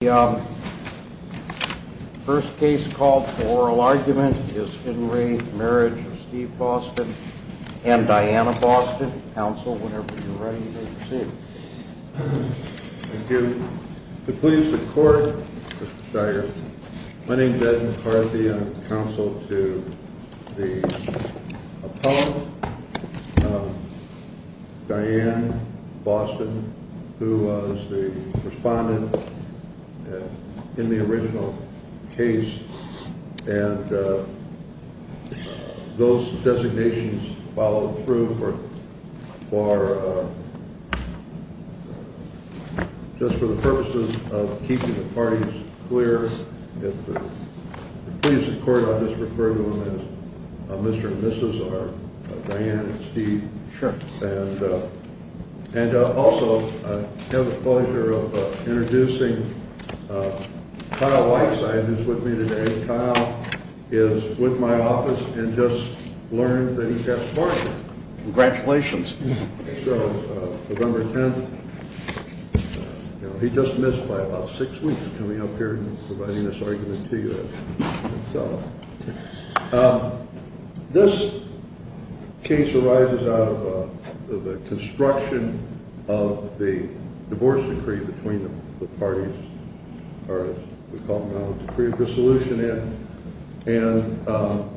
The first case called for oral argument is Henry Marriage of Steve Boston and Diana Boston. Counsel, whenever you're ready, please proceed. Thank you. To please the court, Mr. Steiger, my name is Edmund Carthy. I'm counsel to the appellant, Diana Boston, who was the respondent in the original case. And those designations followed through for just for the purposes of keeping the parties clear. If you please the court, I'll just refer to him as Mr. and Mrs. or Diana and Steve. Sure. And and also have the pleasure of introducing Kyle Whiteside, who's with me today. Kyle is with my office and just learned that he passed pardon. Congratulations. November 10th. He just missed by about six weeks coming up here and providing this argument to you. So this case arises out of the construction of the divorce decree between the parties. We call the solution in and.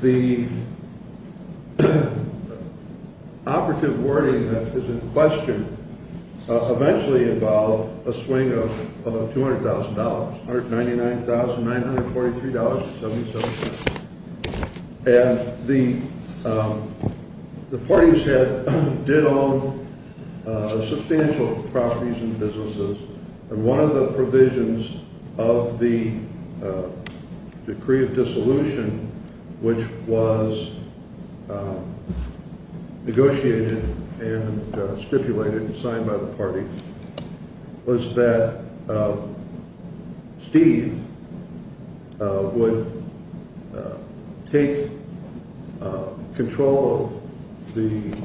The operative wording is in question, eventually involve a swing of $200,000 or ninety nine thousand nine hundred forty three dollars. And the the parties did own substantial properties and businesses. And one of the provisions of the decree of dissolution, which was negotiated and stipulated and signed by the party, was that Steve would take control of the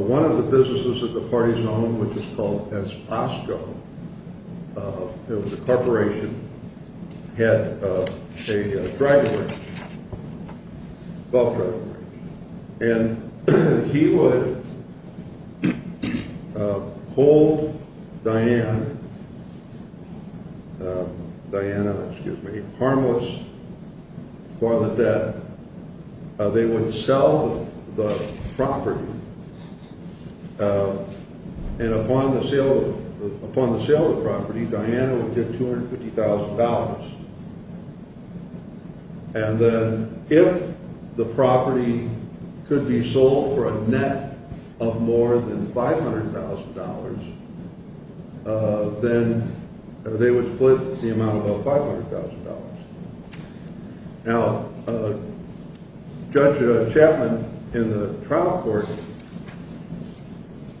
one of the businesses of the party's own, which is called Asko. It was a corporation had a driver. And he would hold Diane, Diana, excuse me, harmless for the debt. They wouldn't sell the property. And upon the sale, upon the sale of property, Diana would get $250,000. And if the property could be sold for a net of more than $500,000, then they would split the amount of about $500,000. Now, Judge Chapman in the trial court,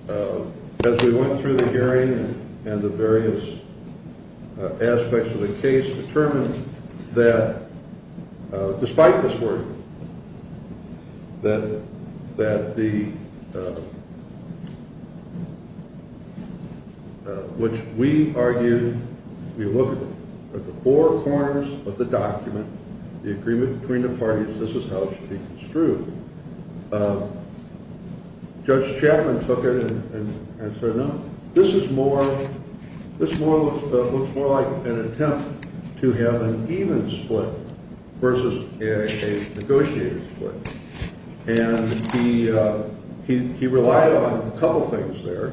as we went through the hearing and the various aspects of the case, determined that despite this word. That that the. Which we argue, we look at the four corners of the document, the agreement between the parties, this is how it's true. Judge Chapman took it and said, no, this is more this more looks more like an attempt to have an even split versus a negotiated split. And he he he relied on a couple of things there,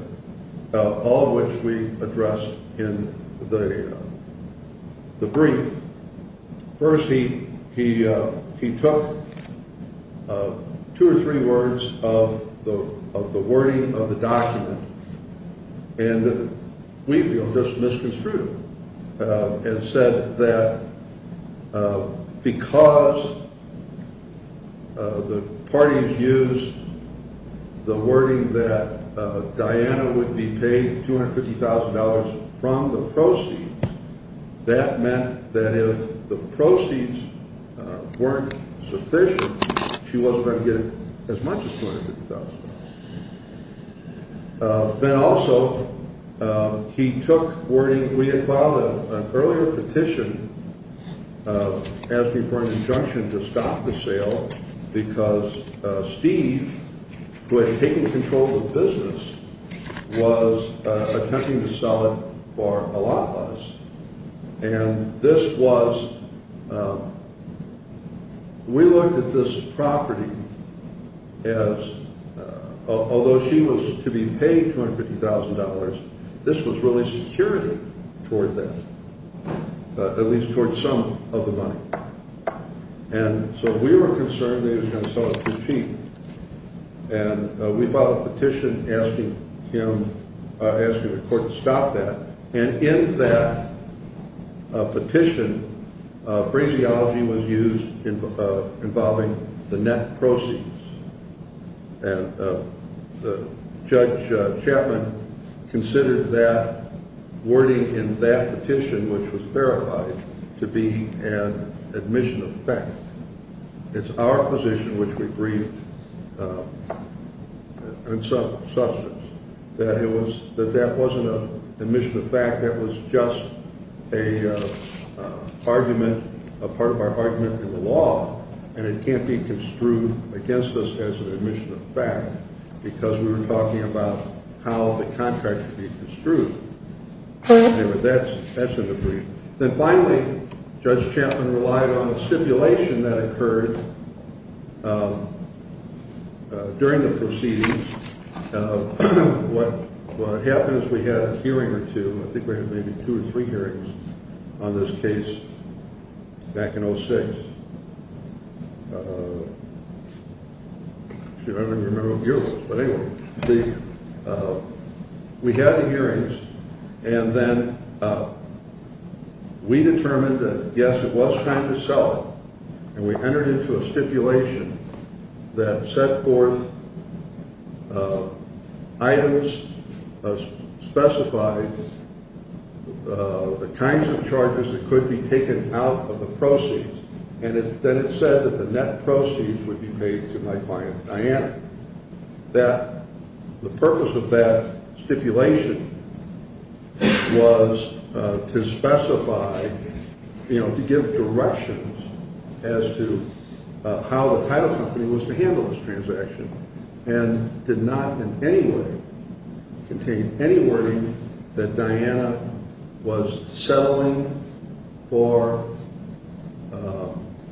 all of which we address in the the brief. First, he he he took two or three words of the of the wording of the document. And we feel just misconstrued and said that because. The parties use the wording that Diana would be paid $250,000 from the proceeds. That meant that if the proceeds weren't sufficient, she wasn't going to get as much as $250,000. Then also, he took wording. We had filed an earlier petition asking for an injunction to stop the sale because Steve, who had taken control of the business, was attempting to sell it for a lot less. And this was. We looked at this property. Yes. Although she was to be paid $250,000, this was really security toward that, at least toward some of the money. And so we were concerned that he was going to sell it for cheap. And we filed a petition asking him, asking the court to stop that. And in that petition, phraseology was used involving the net proceeds. And the judge Chapman considered that wording in that petition, which was verified to be an admission of fact. It's our position, which we agreed. And so that it was that that wasn't an admission of fact. That was just a argument, a part of our argument in the law. And it can't be construed against us as an admission of fact, because we were talking about how the contract would be construed. That's an agreement. Then finally, Judge Chapman relied on a stipulation that occurred during the proceedings. What happens, we had a hearing or two, I think we had maybe two or three hearings on this case back in 06. I don't remember what year it was, but anyway, we had the hearings. And then we determined that, yes, it was time to sell it. And we entered into a stipulation that set forth items, specified the kinds of charges that could be taken out of the proceeds. And then it said that the net proceeds would be paid to my client, Diana. The purpose of that stipulation was to specify, you know, to give directions as to how the title company was to handle this transaction. And did not in any way contain any wording that Diana was settling for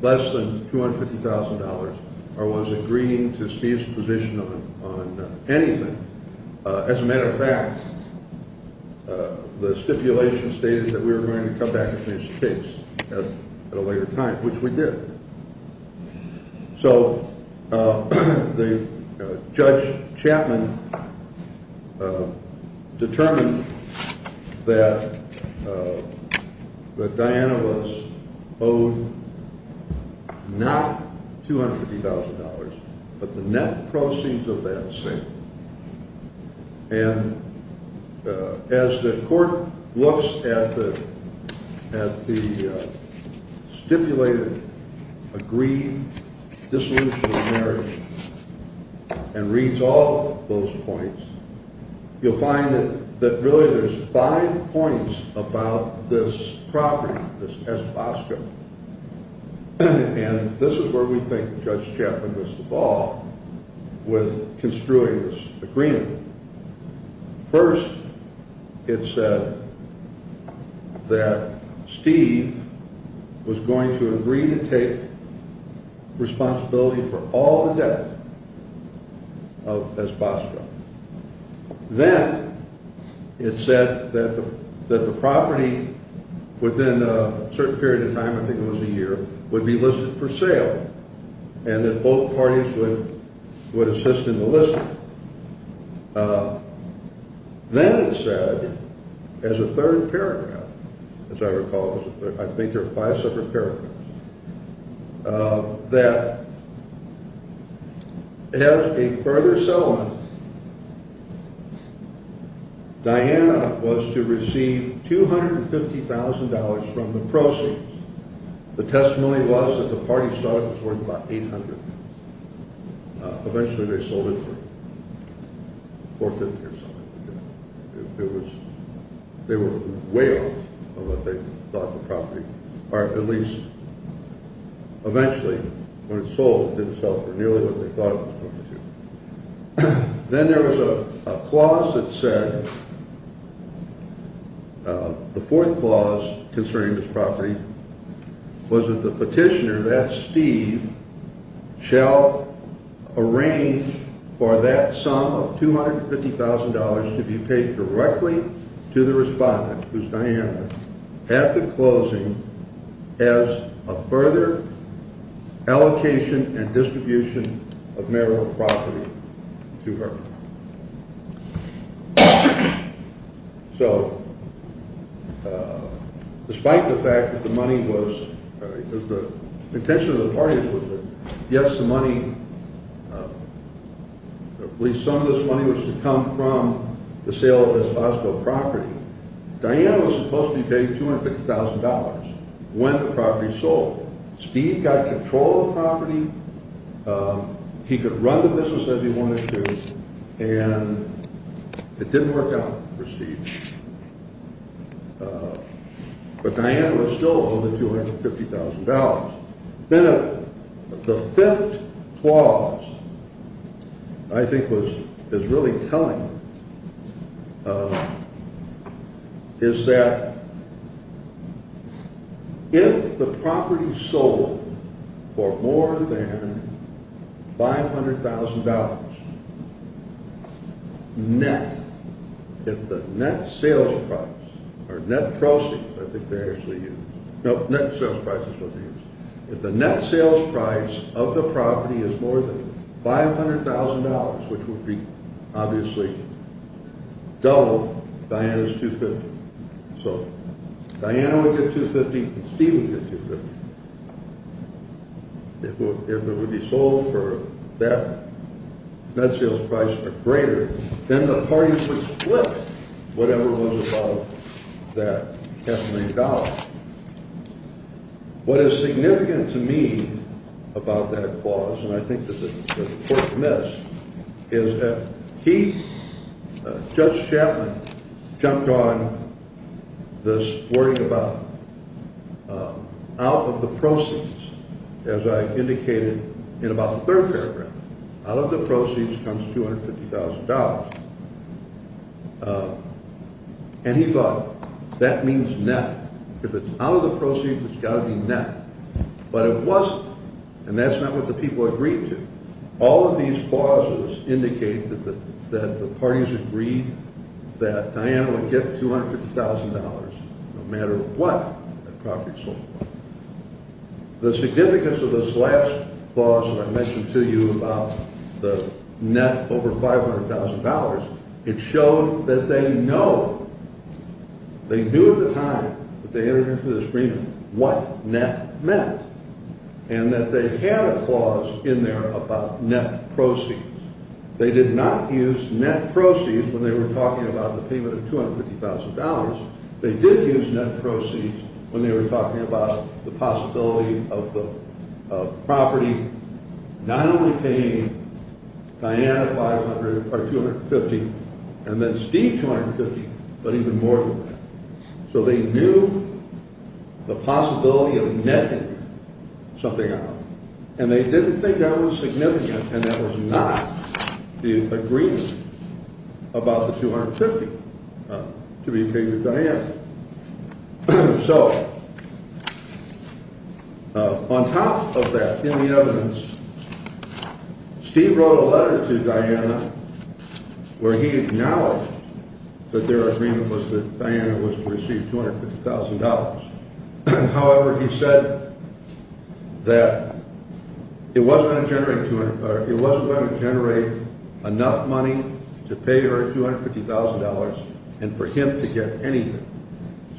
less than $250,000. Or was agreeing to Steve's position on anything. As a matter of fact, the stipulation stated that we were going to come back to this case at a later time, which we did. So Judge Chapman determined that Diana was owed not $250,000, but the net proceeds of that sale. And as the court looks at the stipulated agreed dissolution of marriage and reads all of those points, you'll find that really there's five points about this property, this Escobasco. And this is where we think Judge Chapman missed the ball with construing this agreement. First, it said that Steve was going to agree to take responsibility for all the debt of Escobasco. Then it said that the property within a certain period of time, I think it was a year, would be listed for sale. And that both parties would assist in the listing. Then it said, as a third paragraph, as I recall, I think there are five separate paragraphs, that as a further settlement, Diana was to receive $250,000 from the proceeds. The testimony was that the parties thought it was worth about $800,000. Eventually they sold it for $450,000 or something like that. They were way off of what they thought the property, or at least eventually when it sold, didn't sell for nearly what they thought it was going to. Then there was a clause that said, the fourth clause concerning this property, was that the petitioner, that's Steve, shall arrange for that sum of $250,000 to be paid directly to the respondent, who's Diana, at the closing, as a further allocation and distribution of marital property to her. So, despite the fact that the money was, the intention of the parties was that yes, the money, at least some of this money was to come from the sale of Escobasco property, Diana was supposed to be paid $250,000 when the property sold. Steve got control of the property, he could run the business as he wanted to, and it didn't work out for Steve. But Diana was still owed the $250,000. Then the fifth clause, I think is really telling, is that if the property sold for more than $500,000 net, if the net sales price, or net proceeds, I think they actually use, no, net sales price is what they use, if the net sales price of the property is more than $500,000, which would be obviously double Diana's $250,000. So, Diana would get $250,000 and Steve would get $250,000. If it would be sold for that net sales price or greater, then the parties would split whatever was above that half a million dollars. What is significant to me about that clause, and I think that the court admits, is that he, Judge Chapman, jumped on this wording about out of the proceeds, as I indicated in about the third paragraph, out of the proceeds comes $250,000. And he thought that means net. If it's out of the proceeds, it's got to be net. But it wasn't, and that's not what the people agreed to. All of these clauses indicate that the parties agreed that Diana would get $250,000 no matter what the property sold for. The significance of this last clause that I mentioned to you about the net over $500,000, it showed that they know, they knew at the time that they entered into this agreement what net meant, and that they had a clause in there about net proceeds. They did not use net proceeds when they were talking about the payment of $250,000. They did use net proceeds when they were talking about the possibility of the property not only paying Diana $250,000 and then Steve $250,000, but even more than that. So they knew the possibility of netting something out, and they didn't think that was significant, and that was not the agreement about the $250,000 to be paid to Diana. So on top of that, in the evidence, Steve wrote a letter to Diana where he acknowledged that their agreement was that Diana was to receive $250,000. However, he said that it wasn't going to generate enough money to pay her $250,000 and for him to get anything.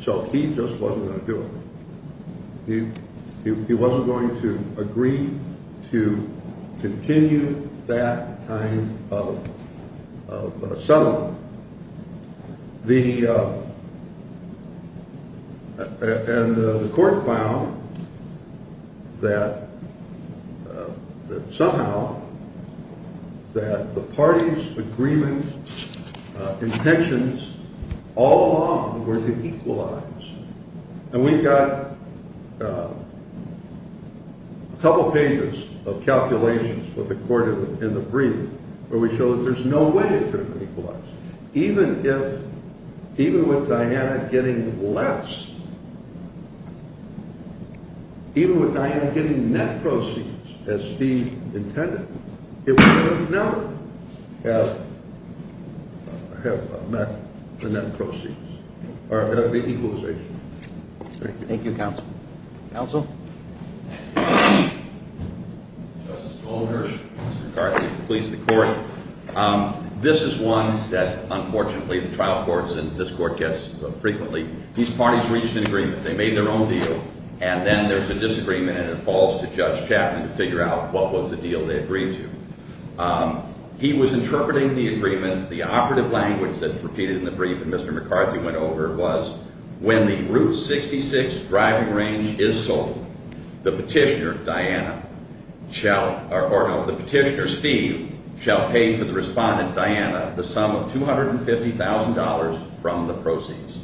So he just wasn't going to do it. He wasn't going to agree to continue that kind of settlement. And the court found that somehow that the parties' agreement intentions all along were to equalize. And we've got a couple pages of calculations for the court in the brief where we show that there's no way it could have equalized. Even if, even with Diana getting less, even with Diana getting net proceeds as Steve intended, it would never have met the net proceeds or the equalization. Thank you, counsel. Counsel? Justice Goldberg, Mr. McCarthy, please, the court. This is one that, unfortunately, the trial courts and this court gets frequently. These parties reached an agreement. They made their own deal, and then there's a disagreement, and it falls to Judge Chapman to figure out what was the deal they agreed to. He was interpreting the agreement. The operative language that's repeated in the brief that Mr. McCarthy went over was, when the Route 66 driving range is sold, the petitioner, Diana, shall, or no, the petitioner, Steve, shall pay to the respondent, Diana, the sum of $250,000 from the proceeds.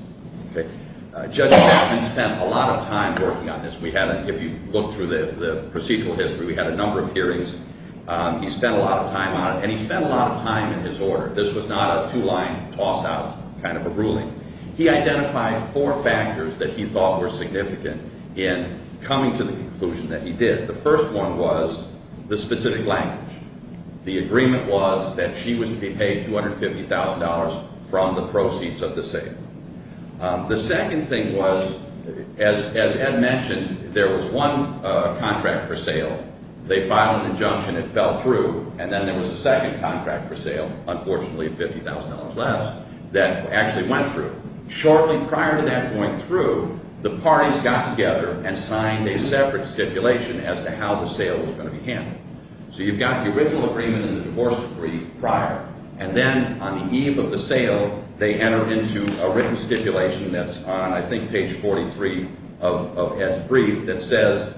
Judge Chapman spent a lot of time working on this. We had, if you look through the procedural history, we had a number of hearings. He spent a lot of time on it, and he spent a lot of time in his order. This was not a two-line toss-out kind of a ruling. He identified four factors that he thought were significant in coming to the conclusion that he did. The first one was the specific language. The agreement was that she was to be paid $250,000 from the proceeds of the sale. The second thing was, as Ed mentioned, there was one contract for sale. They filed an injunction. It fell through, and then there was a second contract for sale, unfortunately, $50,000 less, that actually went through. Shortly prior to that going through, the parties got together and signed a separate stipulation as to how the sale was going to be handled. So you've got the original agreement and the divorce decree prior, and then on the eve of the sale, they enter into a written stipulation that's on, I think, page 43 of Ed's brief that says,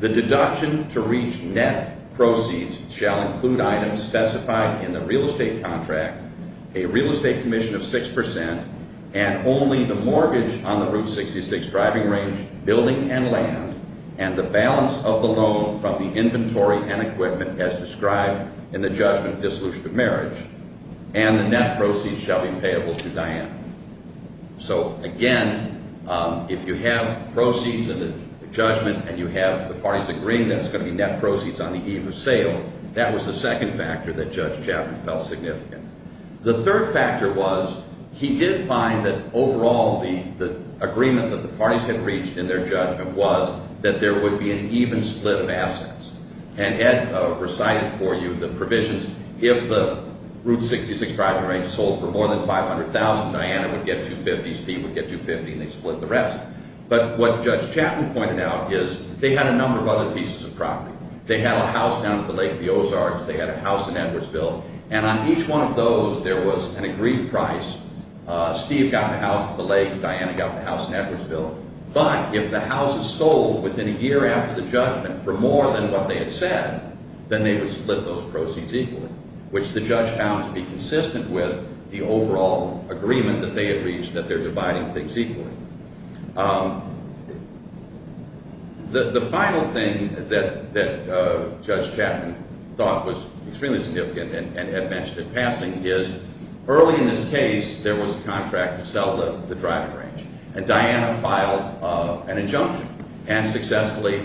The deduction to reach net proceeds shall include items specified in the real estate contract, a real estate commission of 6%, and only the mortgage on the Route 66 driving range, building, and land, and the balance of the loan from the inventory and equipment as described in the judgment of dissolution of marriage, and the net proceeds shall be payable to Diane. So, again, if you have proceeds in the judgment and you have the parties agreeing that it's going to be net proceeds on the eve of sale, that was the second factor that Judge Chapman felt significant. The third factor was he did find that overall the agreement that the parties had reached in their judgment was that there would be an even split of assets. And Ed recited for you the provisions, if the Route 66 driving range sold for more than $500,000, Diana would get $250,000, Steve would get $250,000, and they'd split the rest. But what Judge Chapman pointed out is they had a number of other pieces of property. They had a house down at the lake, the Ozarks. They had a house in Edwardsville. And on each one of those, there was an agreed price. Steve got the house at the lake and Diana got the house in Edwardsville. But if the house is sold within a year after the judgment for more than what they had said, then they would split those proceeds equally, which the judge found to be consistent with the overall agreement that they had reached that they're dividing things equally. The final thing that Judge Chapman thought was extremely significant and had mentioned at passing is early in this case, there was a contract to sell the driving range. And Diana filed an injunction. And successfully,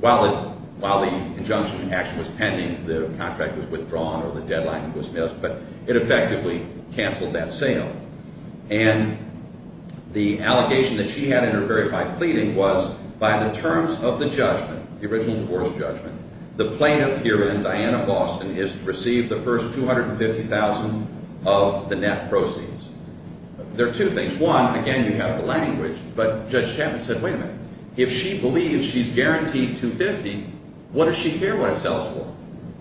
while the injunction actually was pending, the contract was withdrawn or the deadline was missed, but it effectively canceled that sale. And the allegation that she had in her verified pleading was by the terms of the judgment, the original divorce judgment, the plaintiff here in Diana, Boston, is to receive the first $250,000 of the net proceeds. There are two things. One, again, you have the language, but Judge Chapman said, wait a minute. If she believes she's guaranteed $250,000, what does she care what it sells for?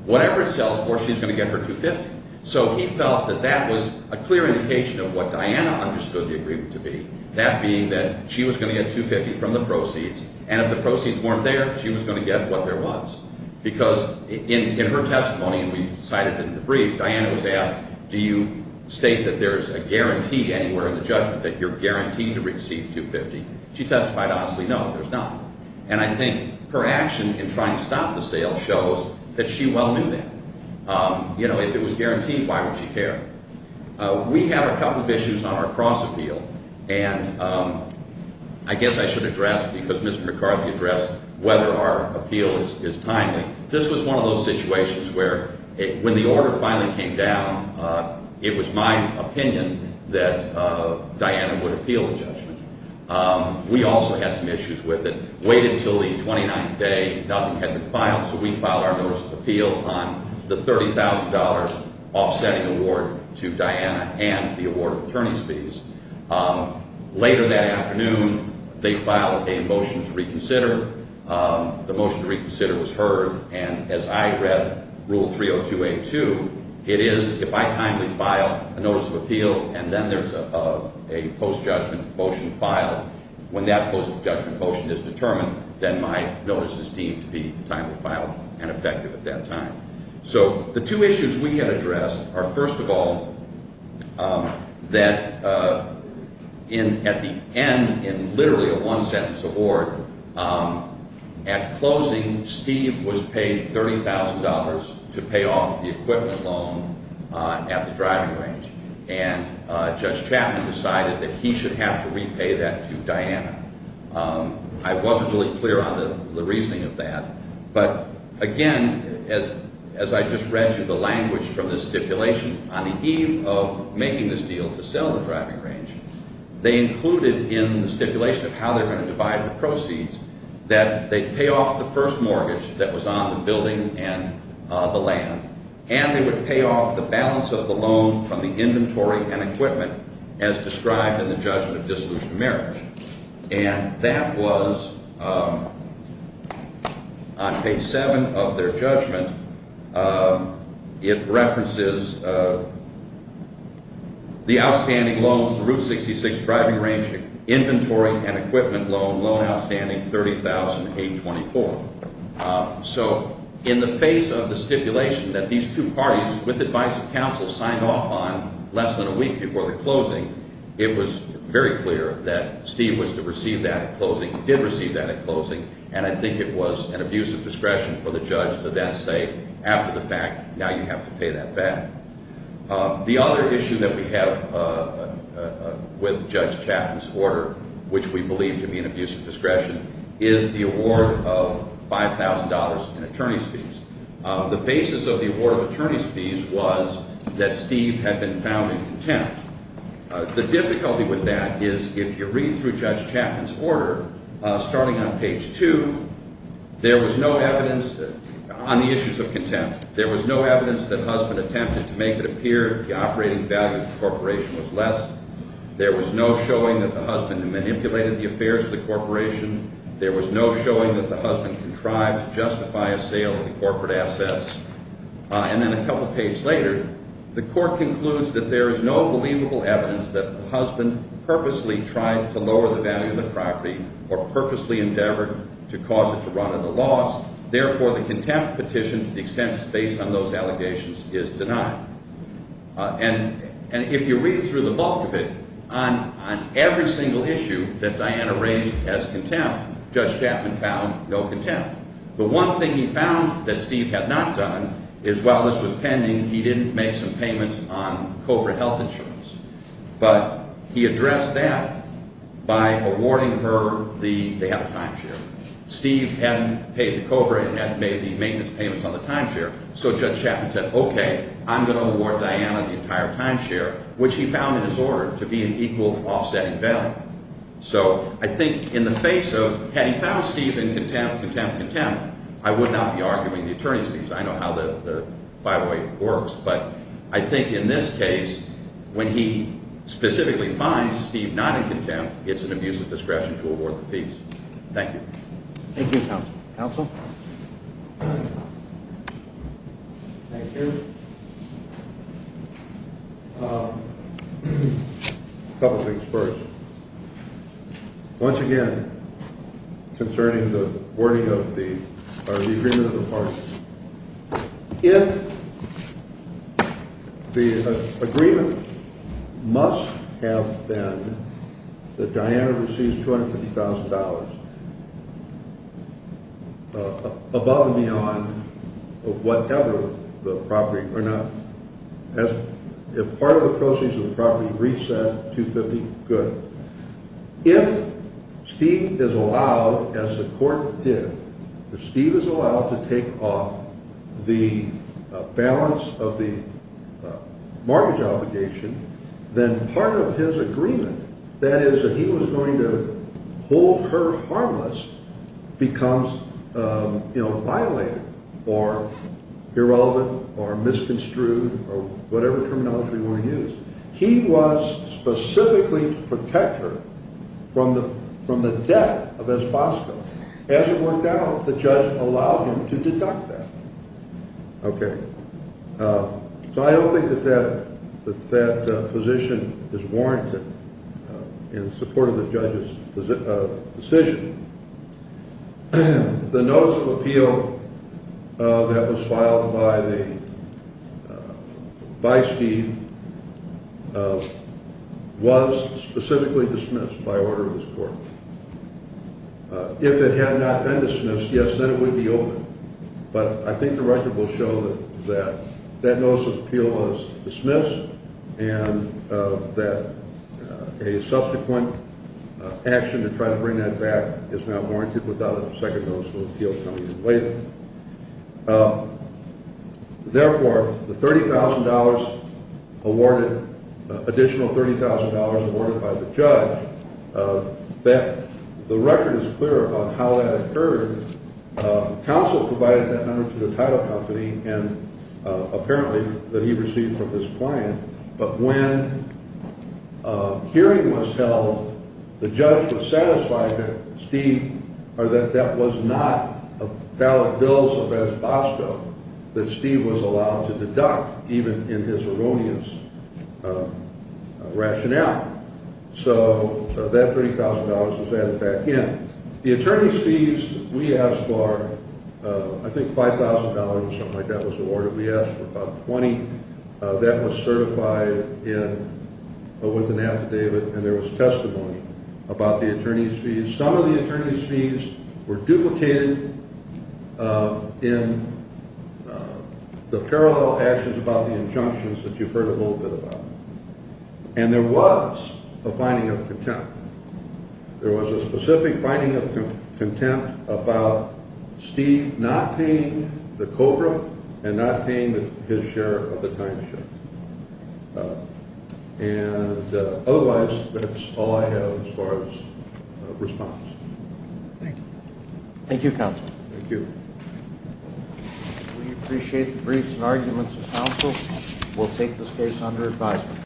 Whatever it sells for, she's going to get her $250,000. So he felt that that was a clear indication of what Diana understood the agreement to be, that being that she was going to get $250,000 from the proceeds, and if the proceeds weren't there, she was going to get what there was. Because in her testimony, and we cited it in the brief, Diana was asked, do you state that there's a guarantee anywhere in the judgment that you're guaranteeing to receive $250,000? She testified, honestly, no, there's not. And I think her action in trying to stop the sale shows that she well knew that. If it was guaranteed, why would she care? We have a couple of issues on our cross-appeal, and I guess I should address, because Mr. McCarthy addressed whether our appeal is timely. This was one of those situations where when the order finally came down, it was my opinion that Diana would appeal the judgment. We also had some issues with it. We waited until the 29th day. Nothing had been filed, so we filed our notice of appeal on the $30,000 offsetting award to Diana and the award of attorney's fees. Later that afternoon, they filed a motion to reconsider. The motion to reconsider was heard, and as I read Rule 302A2, it is if I timely file a notice of appeal, and then there's a post-judgment motion filed. When that post-judgment motion is determined, then my notice is deemed to be timely filed and effective at that time. So the two issues we had addressed are, first of all, that at the end, in literally a one-sentence award, at closing, Steve was paid $30,000 to pay off the equipment loan at the driving range. And Judge Chapman decided that he should have to repay that to Diana. I wasn't really clear on the reasoning of that, but again, as I just read through the language from the stipulation, on the eve of making this deal to sell the driving range, they included in the stipulation of how they're going to divide the proceeds that they'd pay off the first mortgage that was on the building and the land, and they would pay off the balance of the loan from the inventory and equipment as described in the judgment of dissolution of marriage. And that was on page 7 of their judgment. It references the outstanding loans, the Route 66 driving range inventory and equipment loan, loan outstanding $30,824. So in the face of the stipulation that these two parties, with the advice of counsel, signed off on less than a week before the closing, it was very clear that Steve was to receive that at closing, did receive that at closing, and I think it was an abuse of discretion for the judge to then say, after the fact, now you have to pay that back. The other issue that we have with Judge Chapman's order, which we believe to be an abuse of discretion, is the award of $5,000 in attorney's fees. The basis of the award of attorney's fees was that Steve had been found in contempt. The difficulty with that is if you read through Judge Chapman's order, starting on page 2, there was no evidence on the issues of contempt. There was no evidence that the husband attempted to make it appear that the operating value of the corporation was less. There was no showing that the husband manipulated the affairs of the corporation. There was no showing that the husband contrived to justify a sale of the corporate assets. And then a couple pages later, the court concludes that there is no believable evidence that the husband purposely tried to lower the value of the property or purposely endeavored to cause it to run at a loss. Therefore, the contempt petition, to the extent it's based on those allegations, is denied. And if you read through the bulk of it, on every single issue that Diana raised as contempt, Judge Chapman found no contempt. The one thing he found that Steve had not done is, while this was pending, he didn't make some payments on COBRA health insurance. But he addressed that by awarding her the – they have a timeshare. Steve hadn't paid the COBRA and hadn't made the maintenance payments on the timeshare. So Judge Chapman said, okay, I'm going to award Diana the entire timeshare, which he found in his order to be an equal offsetting value. So I think in the face of – had he found Steve in contempt, contempt, contempt, I would not be arguing the attorney's case. I know how the – by the way, works. But I think in this case, when he specifically finds Steve not in contempt, it's an abuse of discretion to award the fees. Thank you. Thank you, counsel. Counsel? Thank you. A couple things first. Once again, concerning the wording of the – or the agreement of the parties. If the agreement must have been that Diana receives $250,000 above and beyond whatever the property – or not. If part of the proceeds of the property reset, $250,000, good. If Steve is allowed, as the court did, if Steve is allowed to take off the balance of the mortgage obligation, then part of his agreement, that is that he was going to hold her harmless, becomes, you know, violated or irrelevant or misconstrued or whatever terminology you want to use. He was specifically to protect her from the death of Esbosco. As it worked out, the judge allowed him to deduct that. Okay. So I don't think that that position is warranted in support of the judge's decision. The notice of appeal that was filed by Steve was specifically dismissed by order of this court. If it had not been dismissed, yes, then it would be open. But I think the record will show that that notice of appeal was dismissed and that a subsequent action to try to bring that back is not warranted without a second notice of appeal coming in later. Therefore, the $30,000 awarded, additional $30,000 awarded by the judge, that the record is clear about how that occurred. Counsel provided that number to the title company and apparently that he received from his client. But when a hearing was held, the judge was satisfied that Steve or that that was not a valid bill of Esbosco that Steve was allowed to deduct even in his erroneous rationale. So that $30,000 was added back in. The attorney sees we asked for, I think, $5,000 or something like that was awarded. We asked for about $20,000. That was certified with an affidavit and there was testimony about the attorney's fees. Some of the attorney's fees were duplicated in the parallel actions about the injunctions that you've heard a little bit about. There was a specific finding of contempt about Steve not paying the COBRA and not paying his share of the timeshare. And otherwise, that's all I have as far as response. Thank you. Thank you, Counsel. Thank you. We appreciate the briefs and arguments of counsel. We'll take this case under advisement.